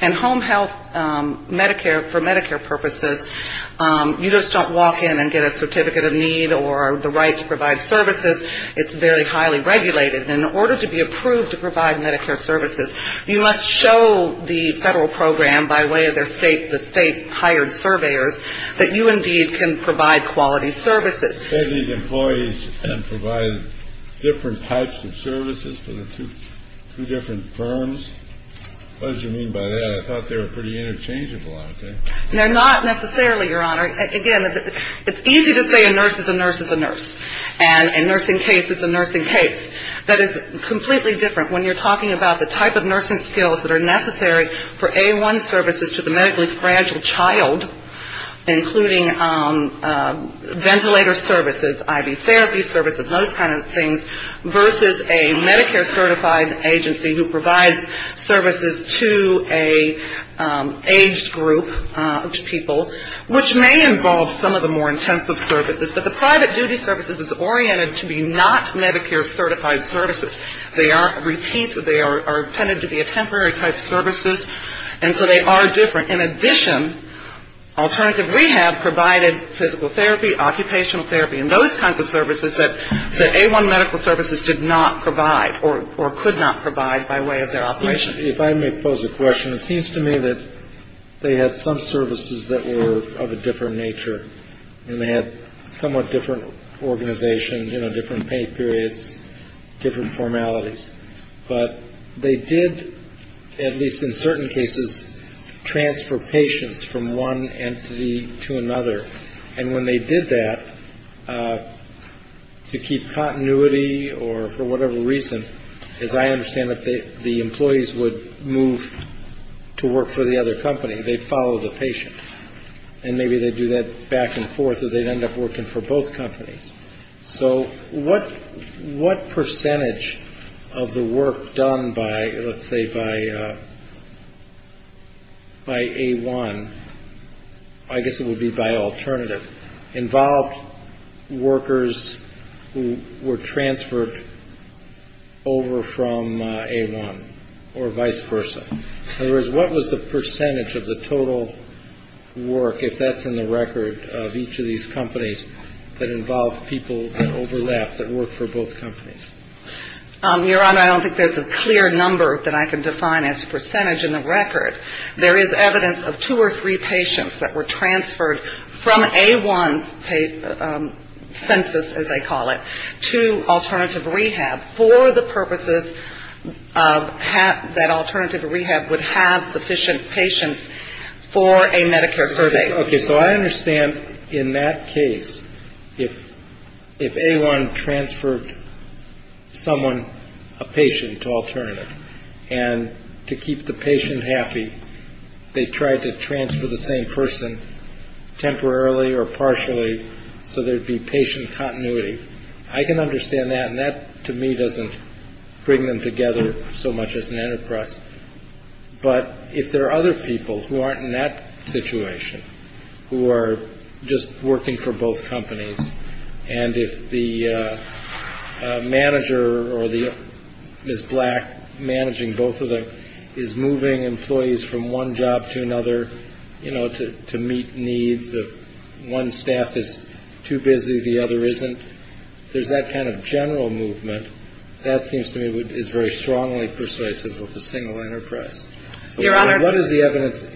And home health, for Medicare purposes, you just don't walk in and get a certificate of need or the right to provide services. It's very highly regulated. In order to be approved to provide Medicare services, you must show the federal program by way of the state hired surveyors that you indeed can provide quality services. You're extending employees and providing different types of services for the two different firms? What did you mean by that? I thought they were pretty interchangeable out there. They're not necessarily, Your Honor. Again, it's easy to say a nurse is a nurse is a nurse and a nursing case is a nursing case. That is completely different when you're talking about the type of nursing skills that are necessary for A-One services to the medically fragile child, including ventilator services, I.V. therapy services, those kinds of things, versus a Medicare certified agency who provides services to an aged group of people, which may involve some of the more intensive services. But the private duty services is oriented to be not Medicare certified services. They are a repeat. They are tended to be a temporary type of services, and so they are different. In addition, alternative rehab provided physical therapy, occupational therapy, and those kinds of services that the A-One medical services did not provide or could not provide by way of their operation. If I may pose a question, it seems to me that they had some services that were of a different nature, and they had somewhat different organizations, you know, different pay periods, different formalities. But they did, at least in certain cases, transfer patients from one entity to another. And when they did that, to keep continuity or for whatever reason, as I understand it, the employees would move to work for the other company. They'd follow the patient, and maybe they'd do that back and forth, or they'd end up working for both companies. So what percentage of the work done by, let's say, by A-One, I guess it would be by alternative, involved workers who were transferred over from A-One or vice versa? In other words, what was the percentage of the total work, if that's in the record of each of these companies, that involved people that overlapped that worked for both companies? Your Honor, I don't think there's a clear number that I can define as a percentage in the record. There is evidence of two or three patients that were transferred from A-One's census, as they call it, to alternative rehab for the purposes of that alternative rehab would have sufficient patients for a Medicare service. OK, so I understand in that case, if if A-One transferred someone, a patient to alternative, and to keep the patient happy, they tried to transfer the same person temporarily or partially. So there'd be patient continuity. I can understand that. And that, to me, doesn't bring them together so much as an enterprise. But if there are other people who aren't in that situation, who are just working for both companies, and if the manager or the black managing both of them is moving employees from one job to another, you know, to meet needs of one staff is too busy, the other isn't. There's that kind of general movement that seems to me is very strongly persuasive of the single enterprise. Your Honor. What is the evidence?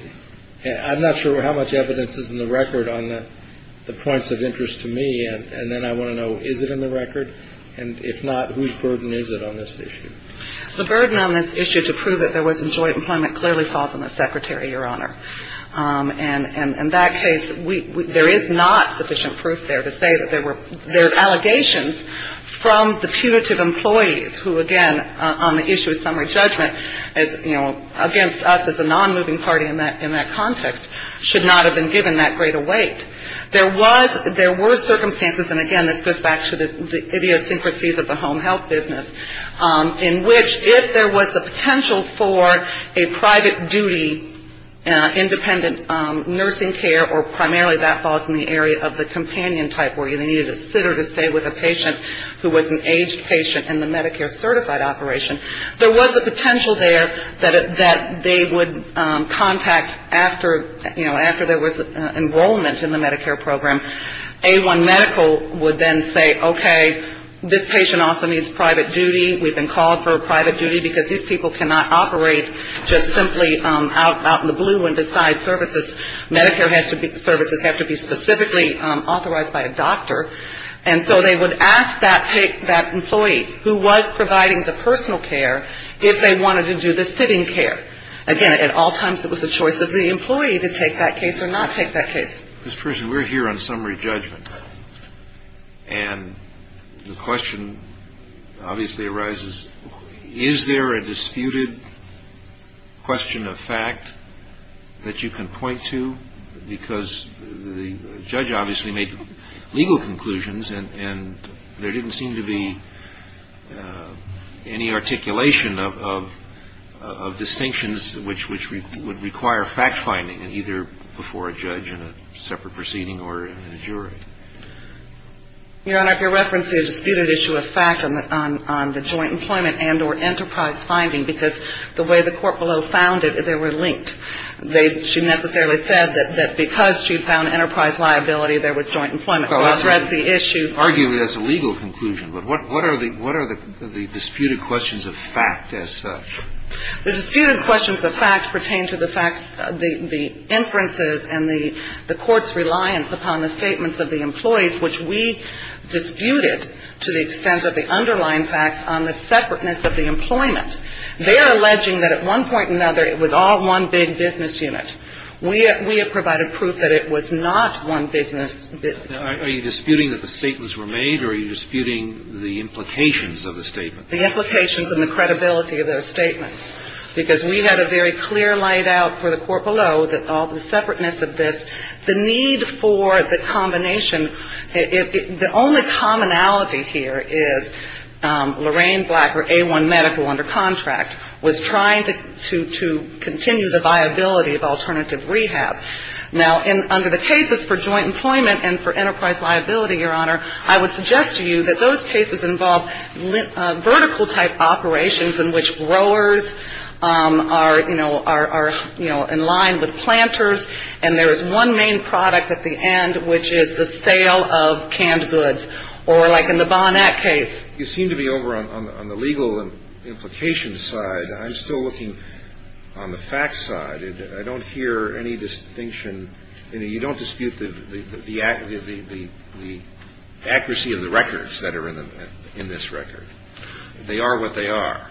I'm not sure how much evidence is in the record on the points of interest to me. And then I want to know, is it in the record? And if not, whose burden is it on this issue? The burden on this issue to prove that there wasn't joint employment clearly falls on the secretary, Your Honor. And in that case, there is not sufficient proof there to say that there were allegations from the punitive employees, who, again, on the issue of summary judgment, you know, against us as a non-moving party in that context, should not have been given that great a weight. There were circumstances, and again, this goes back to the idiosyncrasies of the home health business, in which if there was a potential for a private duty independent nursing care, or primarily that falls in the area of the companion type where you needed a sitter to stay with a patient who was an aged patient in the Medicare certified operation, there was a potential there that they would contact after, you know, after there was enrollment in the Medicare program. A1 Medical would then say, okay, this patient also needs private duty. We've been called for a private duty because these people cannot operate just simply out in the blue and decide services. Medicare services have to be specifically authorized by a doctor. And so they would ask that employee who was providing the personal care if they wanted to do the sitting care. Again, at all times, it was a choice of the employee to take that case or not take that case. This person, we're here on summary judgment. And the question obviously arises, is there a disputed question of fact that you can point to? Because the judge obviously made legal conclusions, and there didn't seem to be any articulation of distinctions, which would require fact-finding either before a judge in a separate proceeding or in a jury. Your Honor, if you're referencing a disputed issue of fact on the joint employment and or enterprise finding, because the way the court below found it, they were linked. She necessarily said that because she found enterprise liability, there was joint employment. So that's the issue. Arguably, that's a legal conclusion. But what are the disputed questions of fact as such? The disputed questions of fact pertain to the facts, the inferences, and the court's reliance upon the statements of the employees, which we disputed to the extent of the underlying facts on the separateness of the employment. They are alleging that at one point or another, it was all one big business unit. We have provided proof that it was not one big business unit. Are you disputing that the statements were made, or are you disputing the implications of the statements? The implications and the credibility of those statements, because we had a very clear light out for the court below that all the separateness of this, the need for the combination, the only commonality here is Lorraine Blacker, A1 medical under contract, was trying to continue the viability of alternative rehab. Now, under the cases for joint employment and for enterprise liability, Your Honor, I would suggest to you that those cases involve vertical-type operations in which growers are, you know, are in line with planters, and there is one main product at the end, which is the sale of canned goods, or like in the Bonac case. You seem to be over on the legal implications side. I'm still looking on the facts side. I don't hear any distinction. You don't dispute the accuracy of the records that are in this record. They are what they are.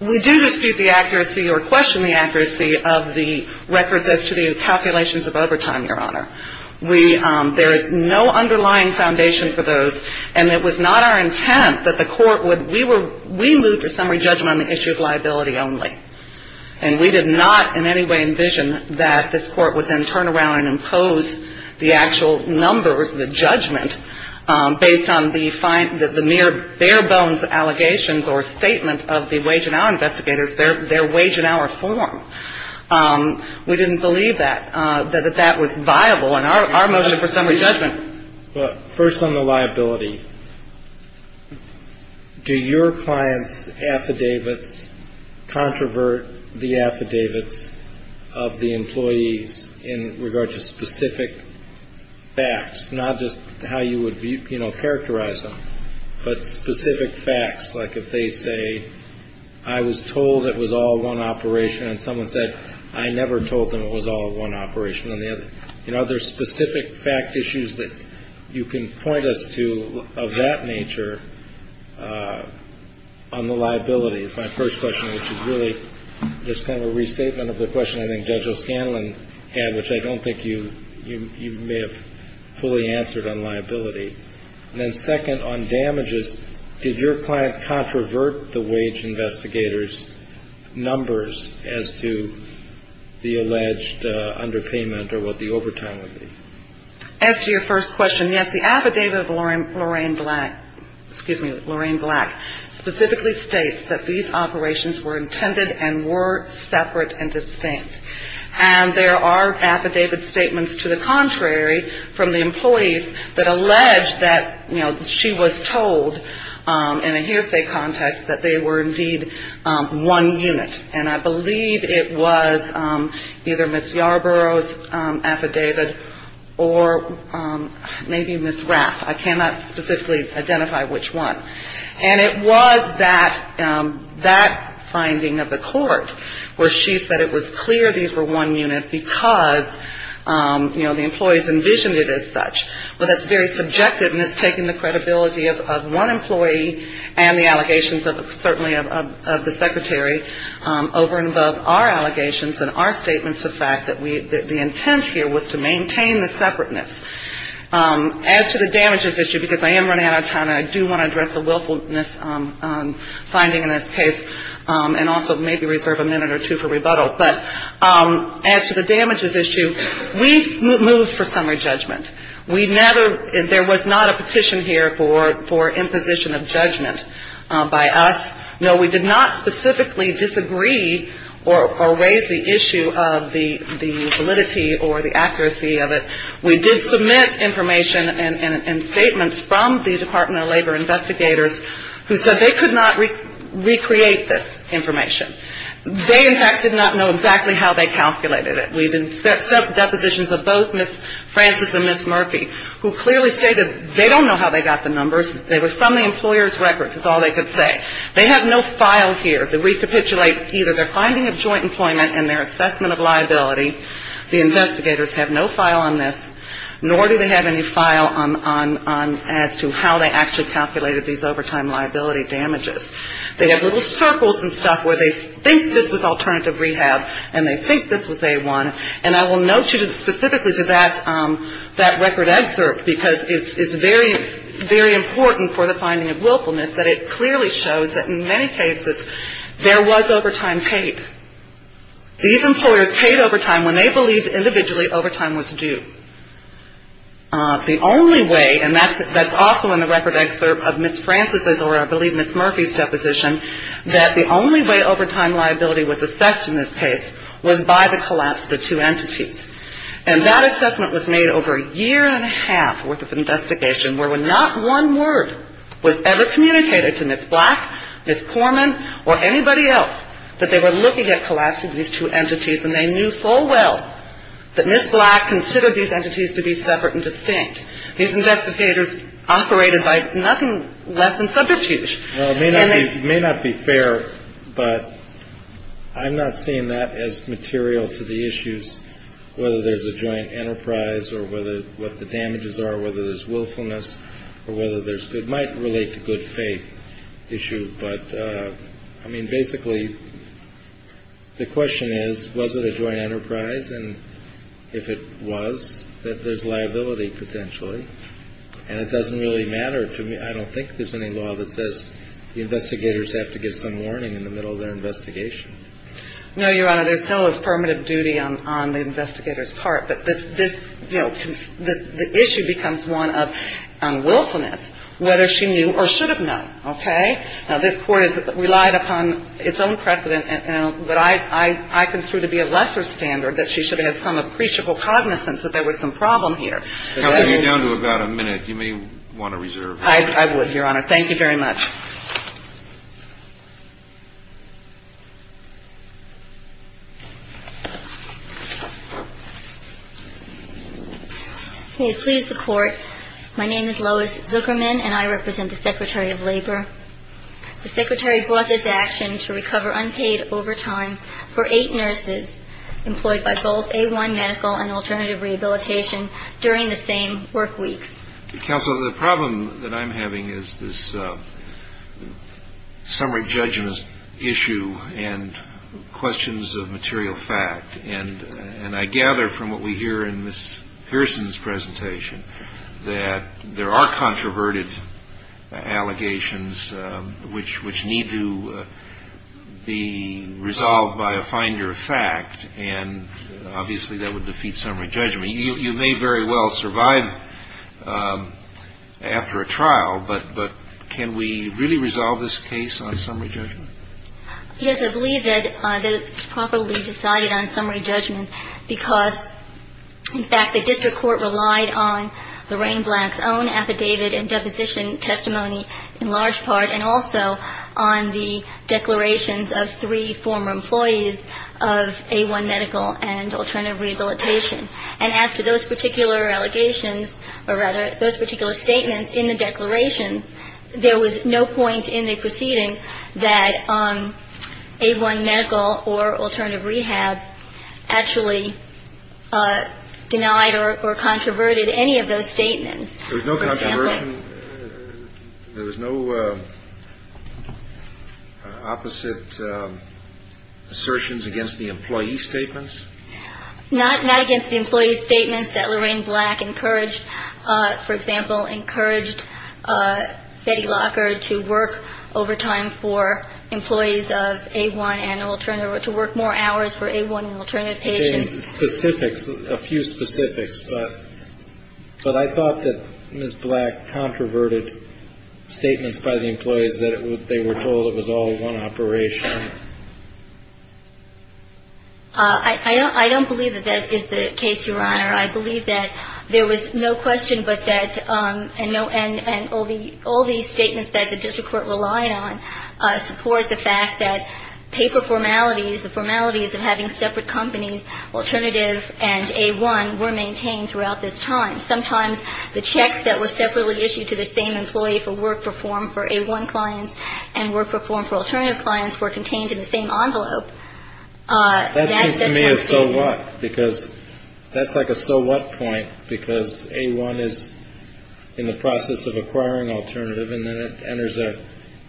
We do dispute the accuracy or question the accuracy of the records as to the calculations of overtime, Your Honor. We ‑‑ there is no underlying foundation for those, and it was not our intent that the court would ‑‑ we moved to summary judgment on the issue of liability only, and we did not in any way envision that this court would then turn around and impose the actual numbers, the judgment, based on the mere bare bones allegations or statement of the wage and hour investigators, their wage and hour form. We didn't believe that, that that was viable in our motion for summary judgment. First on the liability. Do your clients' affidavits controvert the affidavits of the employees in regard to specific facts, not just how you would, you know, characterize them, but specific facts, like if they say, I was told it was all one operation, and someone said, I never told them it was all one operation, you know, are there specific fact issues that you can point us to of that nature on the liability, is my first question, which is really just kind of a restatement of the question I think Judge O'Scanlan had, which I don't think you may have fully answered on liability. And then second, on damages, did your client controvert the wage investigators' numbers as to the alleged underpayment or what the overtime would be? As to your first question, yes, the affidavit of Lorraine Black, excuse me, Lorraine Black, specifically states that these operations were intended and were separate and distinct. And there are affidavit statements to the contrary from the employees that allege that, you know, she was told in a hearsay context that they were indeed one unit. And I believe it was either Ms. Yarbrough's affidavit or maybe Ms. Rapp. I cannot specifically identify which one. And it was that finding of the court where she said it was clear these were one unit because, you know, the employees envisioned it as such. Well, that's very subjective and it's taking the credibility of one employee and the allegations certainly of the secretary over and above our allegations and our statements of fact that the intent here was to maintain the separateness. As to the damages issue, because I am running out of time and I do want to address the willfulness finding in this case and also maybe reserve a minute or two for rebuttal, but as to the damages issue, we moved for summary judgment. There was not a petition here for imposition of judgment by us. No, we did not specifically disagree or raise the issue of the validity or the accuracy of it. We did submit information and statements from the Department of Labor investigators who said they could not recreate this information. They, in fact, did not know exactly how they calculated it. We did set up depositions of both Ms. Francis and Ms. Murphy who clearly stated they don't know how they got the numbers. They were from the employer's records is all they could say. They have no file here to recapitulate either their finding of joint employment and their assessment of liability. The investigators have no file on this, nor do they have any file as to how they actually calculated these overtime liability damages. They have little circles and stuff where they think this was alternative rehab and they think this was A-1, and I will note you specifically to that record excerpt because it's very, very important for the finding of willfulness that it clearly shows that in many cases there was overtime paid. These employers paid overtime when they believed individually overtime was due. The only way, and that's also in the record excerpt of Ms. Francis' or I believe Ms. Murphy's deposition, that the only way overtime liability was assessed in this case was by the collapse of the two entities. And that assessment was made over a year and a half worth of investigation where not one word was ever communicated to Ms. Black, Ms. Poorman, or anybody else that they were looking at collapsing these two entities and they knew full well that Ms. Black considered these entities to be separate and distinct. These investigators operated by nothing less than subterfuge. Well, it may not be fair, but I'm not seeing that as material to the issues, whether there's a joint enterprise or whether what the damages are, whether there's willfulness or whether there's good might relate to good faith issue. But, I mean, basically the question is, was it a joint enterprise? And if it was, that there's liability potentially. And it doesn't really matter to me. I don't think there's any law that says the investigators have to give some warning in the middle of their investigation. No, Your Honor, there's no affirmative duty on the investigator's part. But this, you know, the issue becomes one of willfulness, whether she knew or should have known. Okay? Now, this Court has relied upon its own precedent, but I consider to be a lesser standard that she should have had some appreciable cognizance that there was some problem here. Counsel, you're down to about a minute. You may want to reserve. I would, Your Honor. Thank you very much. May it please the Court. My name is Lois Zuckerman, and I represent the Secretary of Labor. The Secretary brought this action to recover unpaid overtime for eight nurses employed by both A1 Medical and Alternative Rehabilitation during the same work weeks. Counsel, the problem that I'm having is this summary judgment issue and questions of material fact. And I gather from what we hear in Ms. Pearson's presentation that there are controverted allegations which need to be resolved by a finder of fact, and obviously that would defeat summary judgment. I mean, you may very well survive after a trial, but can we really resolve this case on summary judgment? Yes, I believe that it's properly decided on summary judgment because, in fact, the District Court relied on Lorraine Black's own affidavit and deposition testimony in large part and also on the declarations of three former employees of A1 Medical and Alternative Rehabilitation. And as to those particular allegations or, rather, those particular statements in the declaration, there was no point in the proceeding that A1 Medical or Alternative Rehab actually denied or controverted any of those statements. There was no controversion? There was no opposite assertions against the employee statements? Not against the employee statements that Lorraine Black encouraged. For example, encouraged Betty Locker to work overtime for employees of A1 and Alternative, to work more hours for A1 and Alternative patients. Specifics, a few specifics, but I thought that Ms. Black controverted statements by the employees that they were told it was all one operation. I don't believe that that is the case, Your Honor. I believe that there was no question but that, and all these statements that the District Court relied on support the fact that paper formalities, the formalities of having separate companies, Alternative and A1, were maintained throughout this time. Sometimes the checks that were separately issued to the same employee for work performed for A1 clients and work performed for Alternative clients were contained in the same envelope. That seems to me a so what, because that's like a so what point, because A1 is in the process of acquiring Alternative and then it enters a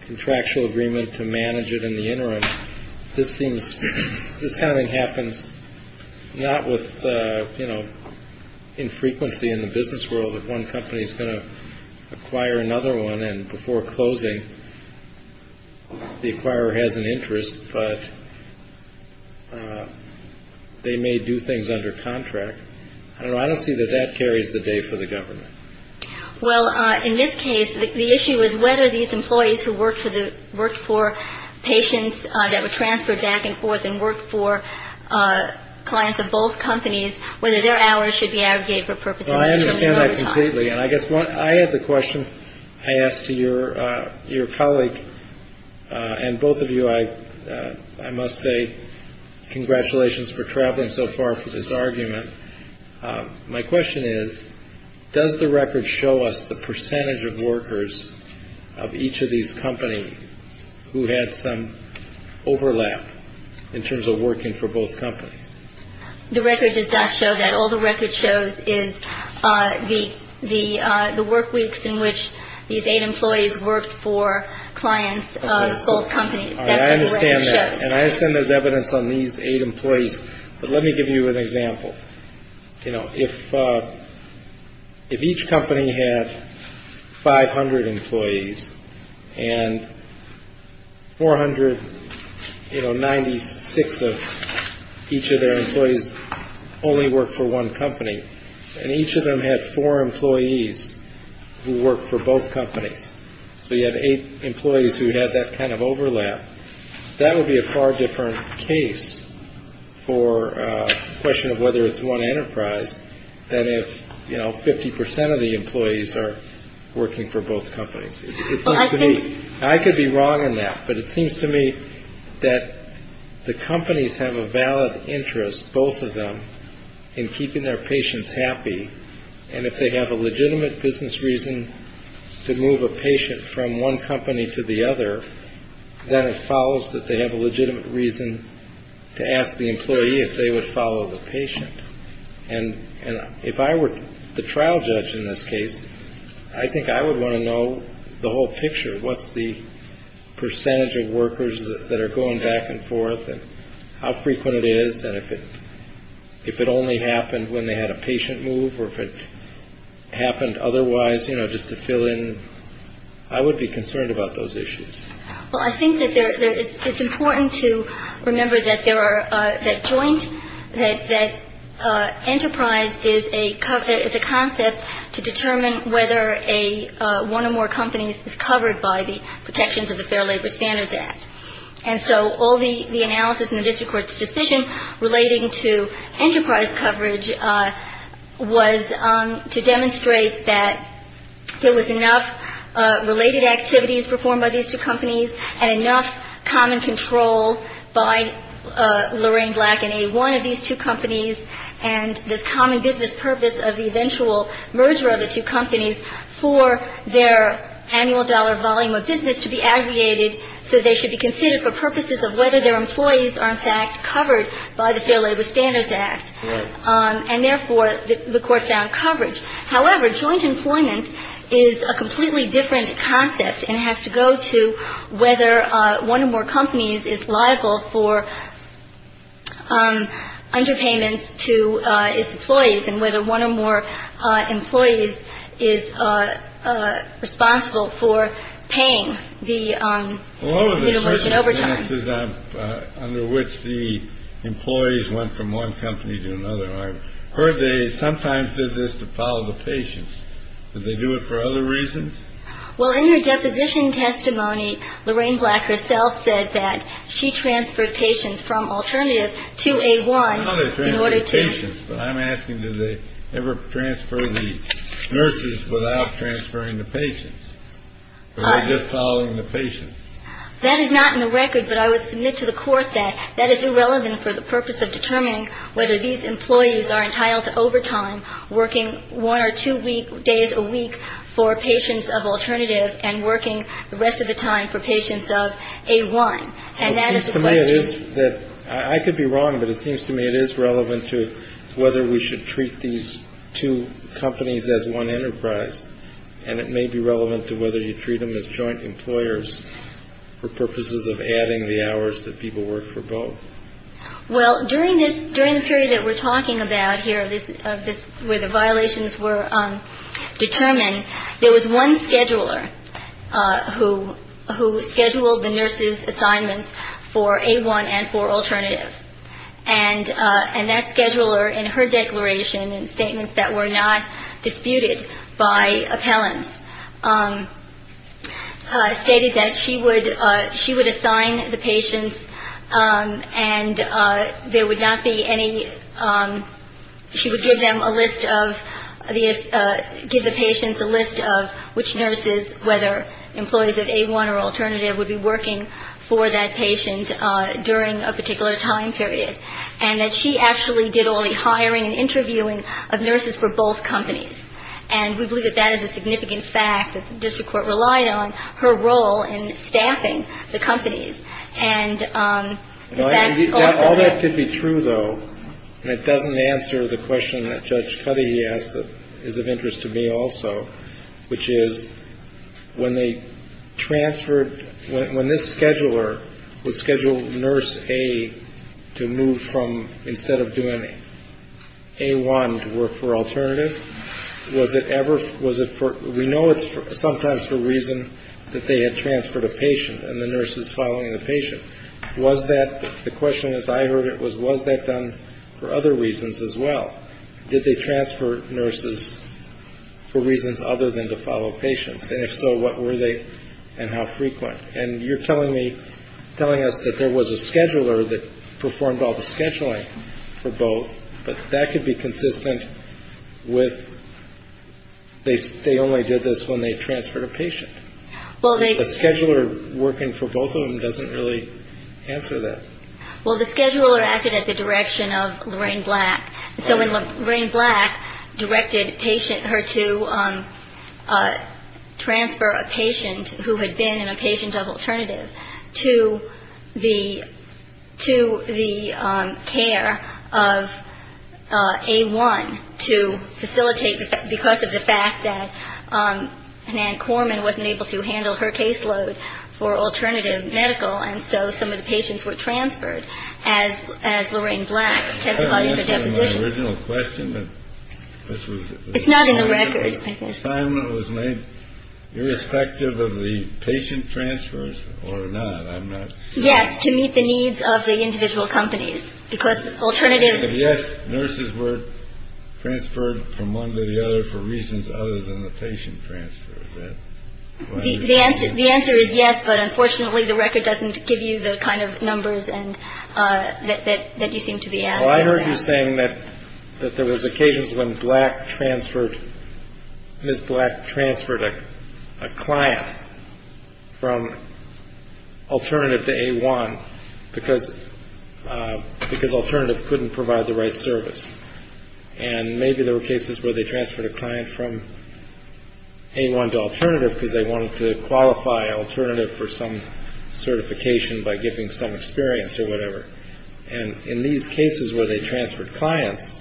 contractual agreement to manage it in the interim. This seems, this kind of thing happens not with infrequency in the business world if one company is going to acquire another one and before closing the acquirer has an interest, but they may do things under contract. I don't see that that carries the day for the government. Well, in this case, the issue is whether these employees who worked for patients that were transferred back and forth and worked for clients of both companies, whether their hours should be aggregated for purposes of I understand that completely. And I guess I had the question I asked to your colleague and both of you, I must say congratulations for traveling so far for this argument. My question is, does the record show us the percentage of workers of each of these companies who had some overlap in terms of working for both companies? The record does not show that. All the record shows is the work weeks in which these eight employees worked for clients of both companies. I understand that. And I understand there's evidence on these eight employees. But let me give you an example. If each company had 500 employees and 496 of each of their employees only worked for one company and each of them had four employees who worked for both companies, so you had eight employees who had that kind of overlap, that would be a far different case for a question of whether it's one enterprise than if 50 percent of the employees are working for both companies. I could be wrong on that, but it seems to me that the companies have a valid interest, both of them, in keeping their patients happy. And if they have a legitimate business reason to move a patient from one company to the other, then it follows that they have a legitimate reason to ask the employee if they would follow the patient. And if I were the trial judge in this case, I think I would want to know the whole picture. What's the percentage of workers that are going back and forth and how frequent it is and if it only happened when they had a patient move or if it happened otherwise, you know, just to fill in. I would be concerned about those issues. Well, I think that it's important to remember that there are, that joint, that enterprise is a concept to determine whether one or more companies is covered by the protections of the Fair Labor Standards Act. And so all the analysis in the district court's decision relating to enterprise coverage was to demonstrate that there was enough related activities performed by these two companies and enough common control by Lorraine Black and A1 of these two companies and this common business purpose of the eventual merger of the two companies for their annual dollar volume of business to be aggregated so they should be considered for purposes of whether their employees are in fact covered by the Fair Labor Standards Act. And therefore, the court found coverage. However, joint employment is a completely different concept and has to go to whether one or more companies is liable for underpayments to its employees and whether one or more employees is responsible for paying the overtime. Under which the employees went from one company to another. I heard they sometimes did this to follow the patients. Did they do it for other reasons? Well, in your deposition testimony, Lorraine Black herself said that she transferred patients from alternative to a one. In order to patients. But I'm asking, did they ever transfer the nurses without transferring the patients following the patients? That is not in the record. But I would submit to the court that that is irrelevant for the purpose of determining whether these employees are entitled to overtime working one or two week days a week for patients of alternative and working the rest of the time for patients of a one. And that is the way it is that I could be wrong. But it seems to me it is relevant to whether we should treat these two companies as one enterprise. And it may be relevant to whether you treat them as joint employers for purposes of adding the hours that people work for both. Well, during this during the period that we're talking about here, this is where the violations were determined. There was one scheduler who who scheduled the nurses assignments for a one and four alternative. And and that scheduler in her declaration and statements that were not disputed by appellants, stated that she would she would assign the patients and there would not be any. She would give them a list of the give the patients a list of which nurses, whether employees of a one or alternative would be working for that patient during a particular time period. And that she actually did all the hiring and interviewing of nurses for both companies. And we believe that that is a significant fact that the district court relied on her role in staffing the companies. And all that could be true, though. And it doesn't answer the question that Judge Cuddy asked that is of interest to me also, which is when they transferred when this scheduler would schedule nurse a to move from instead of doing a one to work for alternative. Was it ever was it for we know it's sometimes for a reason that they had transferred a patient and the nurses following the patient. Was that the question, as I heard it was, was that done for other reasons as well? Did they transfer nurses for reasons other than to follow patients? And if so, what were they and how frequent? And you're telling me telling us that there was a scheduler that performed all the scheduling for both. But that could be consistent with. They they only did this when they transferred a patient. Well, the scheduler working for both of them doesn't really answer that. Well, the scheduler acted at the direction of Lorraine Black. So when Lorraine Black directed patient her to transfer a patient who had been in a patient of alternative to the to the care of a one to facilitate. Because of the fact that an anchorman wasn't able to handle her caseload for alternative medical. And so some of the patients were transferred as as Lorraine Black. The original question. This was not in the record. I think Simon was made irrespective of the patient transfers or not. I'm not. Yes. To meet the needs of the individual companies. Because alternative. Yes. Nurses were transferred from one to the other for reasons other than the patient transfer. The answer. The answer is yes. But unfortunately, the record doesn't give you the kind of numbers and that you seem to be. I heard you saying that that there was occasions when black transferred this black transferred a client from alternative to a one because because alternative couldn't provide the right service. And maybe there were cases where they transferred a client from a one to alternative because they wanted to qualify alternative for some certification by giving some experience or whatever. And in these cases where they transferred clients,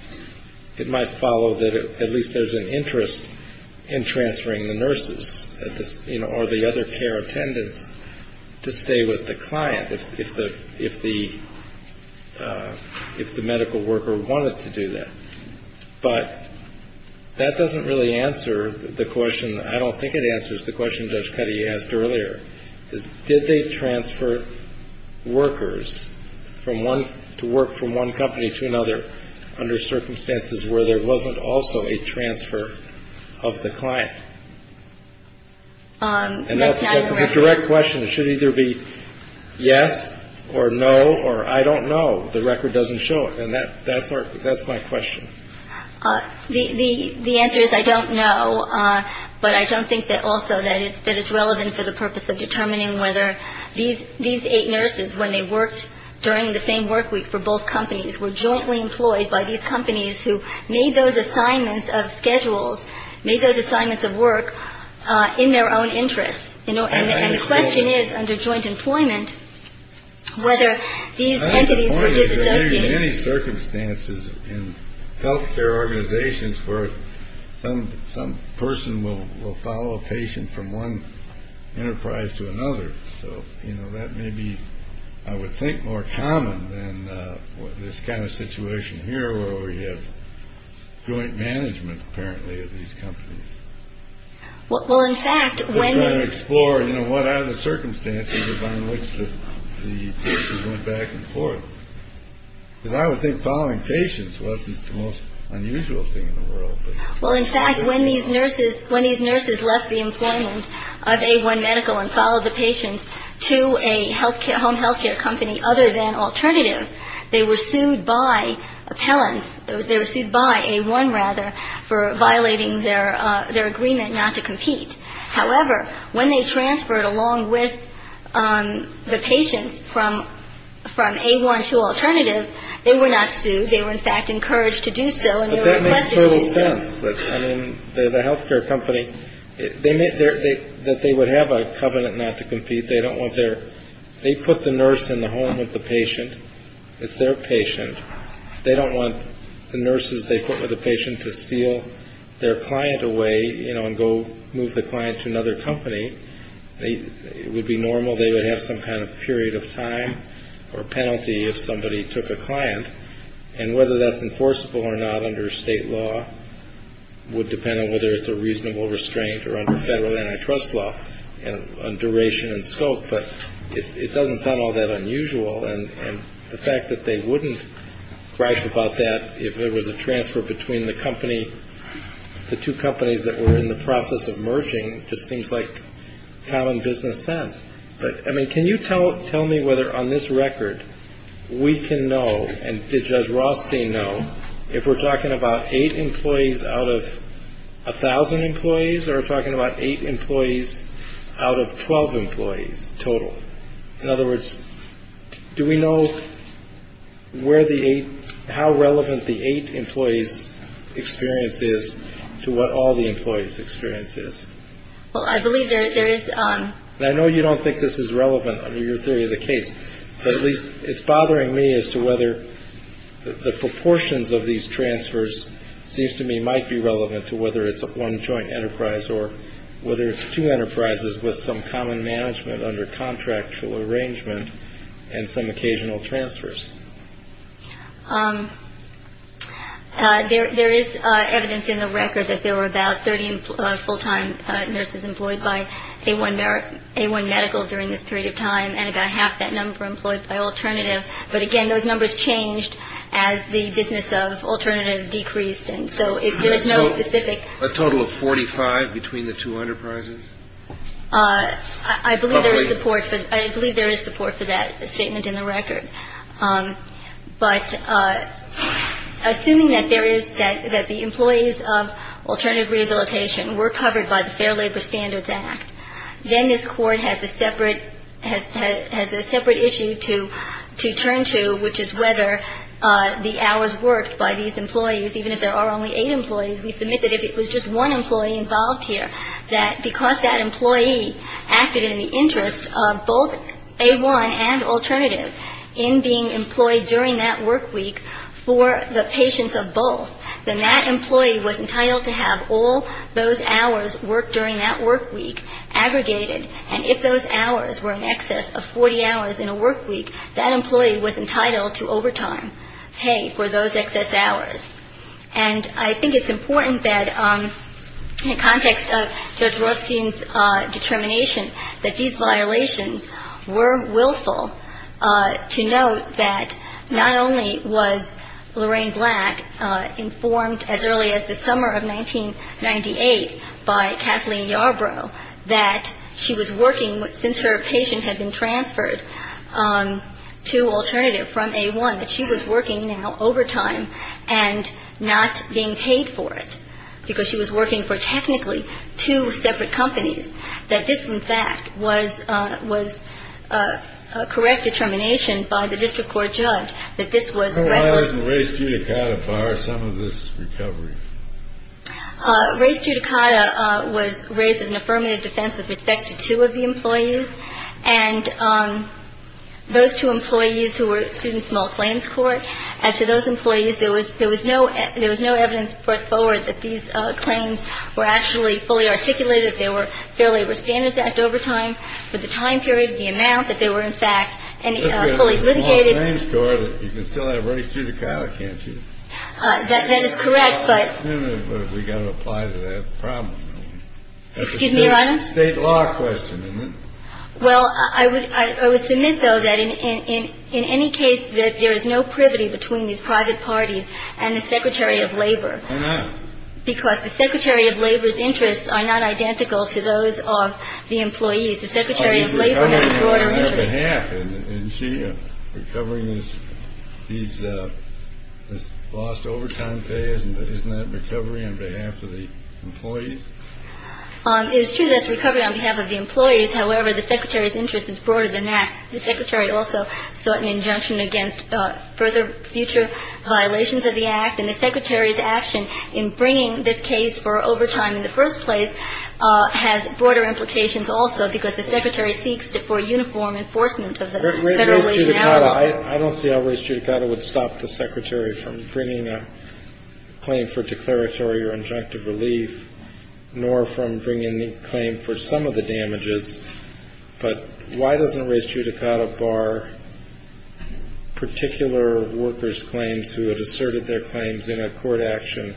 it might follow that at least there's an interest in transferring the nurses or the other care attendants to stay with the client. If the if the if the medical worker wanted to do that. But that doesn't really answer the question. I don't think it answers the question. Judge Petty asked earlier, did they transfer workers from one to work from one company to another under circumstances where there wasn't also a transfer of the client? And that's a direct question. It should either be yes or no or I don't know. The record doesn't show it. And that that's that's my question. The answer is I don't know. But I don't think that also that it's that it's relevant for the purpose of determining whether these these eight nurses, when they worked during the same work week for both companies, were jointly employed by these companies who made those assignments of schedules, made those assignments of work in their own interests. And the question is, under joint employment, whether these entities were disassociated. Circumstances in health care organizations where some some person will follow a patient from one enterprise to another. So, you know, that may be, I would think, more common than this kind of situation here where we have joint management. Apparently these companies. Well, in fact, when you explore, you know, what are the circumstances by which the patient went back and forth? I would think following patients wasn't the most unusual thing in the world. Well, in fact, when these nurses, when these nurses left the employment of a one medical and followed the patients to a health care, home health care company other than alternative, they were sued by appellants. They were sued by a one rather for violating their their agreement not to compete. However, when they transferred along with the patients from from a one to alternative, they were not sued. They were, in fact, encouraged to do so. And that makes total sense. But I mean, the health care company, they may think that they would have a covenant not to compete. They don't want their they put the nurse in the home with the patient. It's their patient. They don't want the nurses they put with the patient to steal their client away, you know, and go move the client to another company. It would be normal. They would have some kind of period of time or penalty if somebody took a client. And whether that's enforceable or not under state law would depend on whether it's a reasonable restraint or under federal antitrust law and duration and scope. But it doesn't sound all that unusual. And the fact that they wouldn't write about that if there was a transfer between the company, the two companies that were in the process of merging just seems like common business sense. But I mean, can you tell tell me whether on this record we can know? And did Judge Rothstein know if we're talking about eight employees out of a thousand employees or talking about eight employees out of 12 employees total? In other words, do we know where the eight how relevant the eight employees experience is to what all the employees experience is? Well, I believe there is. I know you don't think this is relevant under your theory of the case, but at least it's bothering me as to whether the proportions of these transfers seems to me might be relevant to whether it's one joint enterprise or whether it's two enterprises with some common management under contractual arrangement and some occasional transfers. There is evidence in the record that there were about 30 full time nurses employed by a one A1 medical during this period of time. And I got half that number employed by alternative. But again, those numbers changed as the business of alternative decreased. And so if there is no specific a total of 45 between the two enterprises, I believe there is support. But I believe there is support for that statement in the record. But assuming that there is that the employees of alternative rehabilitation were covered by the Fair Labor Standards Act, then this court has a separate has has a separate issue to to turn to, which is whether the hours worked by these employees, even if there are only eight employees. We submit that if it was just one employee involved here, that because that employee acted in the interest of both a one and alternative. In being employed during that work week for the patients of both, then that employee was entitled to have all those hours worked during that work week aggregated. And if those hours were in excess of 40 hours in a work week, that employee was entitled to overtime pay for those excess hours. And I think it's important that in the context of Judge Rothstein's determination, that these violations were willful to note that not only was Lorraine Black informed as early as the summer of 1998 by Kathleen Yarbrough, that she was working since her patient had been transferred to alternative from a one. But she was working now overtime and not being paid for it because she was working for technically two separate companies. That this, in fact, was was a correct determination by the district court judge that this was a race. Some of this recovery, race judicata was raised as an affirmative defense with respect to two of the employees. And those two employees who were students, small claims court. As to those employees, there was there was no there was no evidence put forward that these claims were actually fully articulated. They were fairly were standards act overtime for the time period, the amount that they were, in fact, fully litigated. So race judicata, can't you? That is correct. But we got to apply to that problem. Excuse me, Your Honor. State law question. Well, I would I would submit, though, that in in in any case that there is no privity between these private parties and the secretary of labor. Because the secretary of labor's interests are not identical to those of the employees. The secretary of labor is recovering. He's lost overtime pay. Isn't that recovery on behalf of the employees? It is true. That's recovery on behalf of the employees. However, the secretary's interest is broader than that. The secretary also sought an injunction against further future violations of the act. And the secretary's action in bringing this case for overtime in the first place has broader implications also, because the secretary seeks to for uniform enforcement of the federal wage allowance. I don't see how race judicata would stop the secretary from bringing a claim for declaratory or injunctive relief, nor from bringing the claim for some of the damages. But why doesn't race judicata bar particular workers claims who had asserted their claims in a court action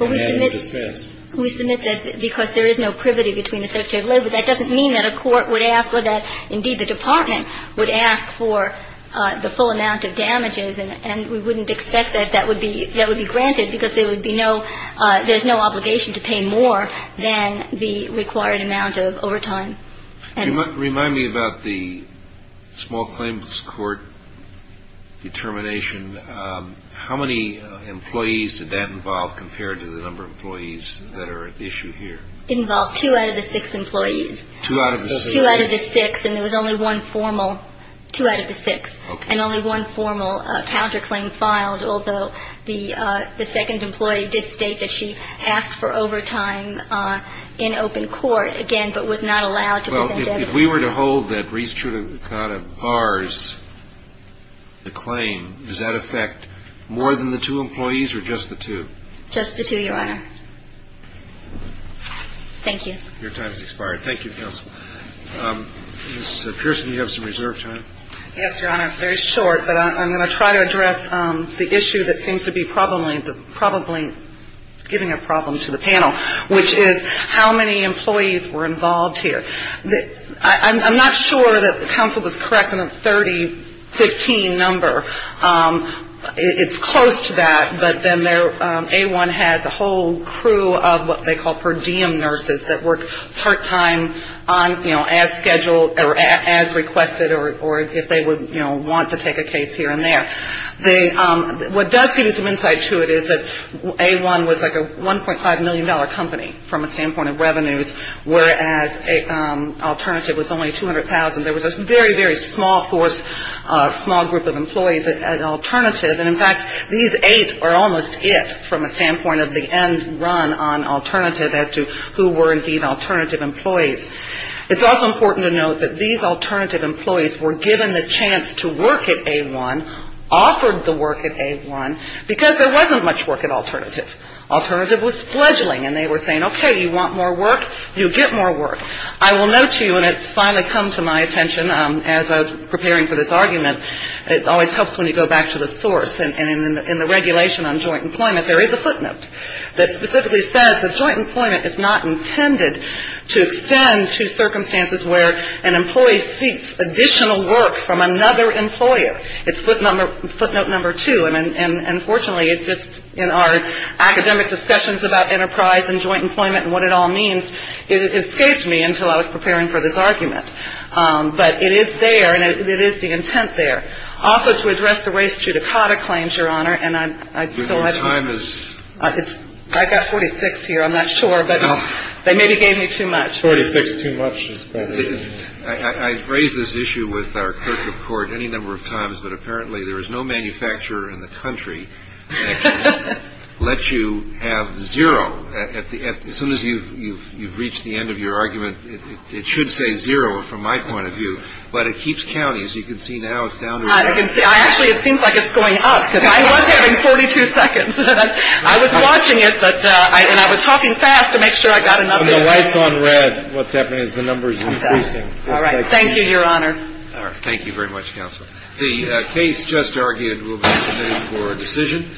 and then dismissed? We submit that because there is no privity between the secretary of labor. That doesn't mean that a court would ask for that. Indeed, the department would ask for the full amount of damages. And we wouldn't expect that that would be that would be granted because there would be no there's no obligation to pay more than the required amount of overtime. And remind me about the small claims court determination. How many employees did that involve compared to the number of employees that are at issue here? Involved two out of the six employees, two out of the six. And there was only one formal two out of the six and only one formal counterclaim filed. Although the second employee did state that she asked for overtime in open court again, but was not allowed to. So if we were to hold that race judicata bars, the claim, does that affect more than the two employees or just the two? Just the two, Your Honor. Thank you. Your time has expired. Thank you, Counsel. Ms. Pearson, you have some reserve time. Yes, Your Honor. It's very short, but I'm going to try to address the issue that seems to be probably giving a problem to the panel, which is how many employees were involved here? I'm not sure that the counsel was correct on the 3015 number. It's close to that, but then A1 has a whole crew of what they call per diem nurses that work part time on, you know, as scheduled or as requested or if they would want to take a case here and there. What does give you some insight to it is that A1 was like a $1.5 million company from a standpoint of revenues, whereas Alternative was only $200,000. There was a very, very small force, small group of employees at Alternative. And, in fact, these eight are almost it from a standpoint of the end run on Alternative as to who were indeed Alternative employees. It's also important to note that these Alternative employees were given the chance to work at A1, offered the work at A1, because there wasn't much work at Alternative. Alternative was fledgling, and they were saying, okay, you want more work, you get more work. I will note to you, and it's finally come to my attention as I was preparing for this argument, it always helps when you go back to the source, and in the regulation on joint employment, there is a footnote that specifically says that joint employment is not intended to extend to circumstances where an employee seeks additional work from another employer. It's footnote number two. And, fortunately, it just, in our academic discussions about enterprise and joint employment and what it all means, it escaped me until I was preparing for this argument. But it is there, and it is the intent there. Also, to address the race judicata claims, Your Honor, and I still have time. I got 46 here. I'm not sure, but they maybe gave me too much. Forty-six too much. I've raised this issue with our clerk of court any number of times, but apparently there is no manufacturer in the country that lets you have zero. As soon as you've reached the end of your argument, it should say zero from my point of view, but it keeps counting. As you can see now, it's down to zero. Actually, it seems like it's going up, because I was having 42 seconds. I was watching it, and I was talking fast to make sure I got enough. When the light's on red, what's happening is the number is increasing. All right. Thank you, Your Honor. Thank you very much, Counsel. The case just argued will be submitted for a decision.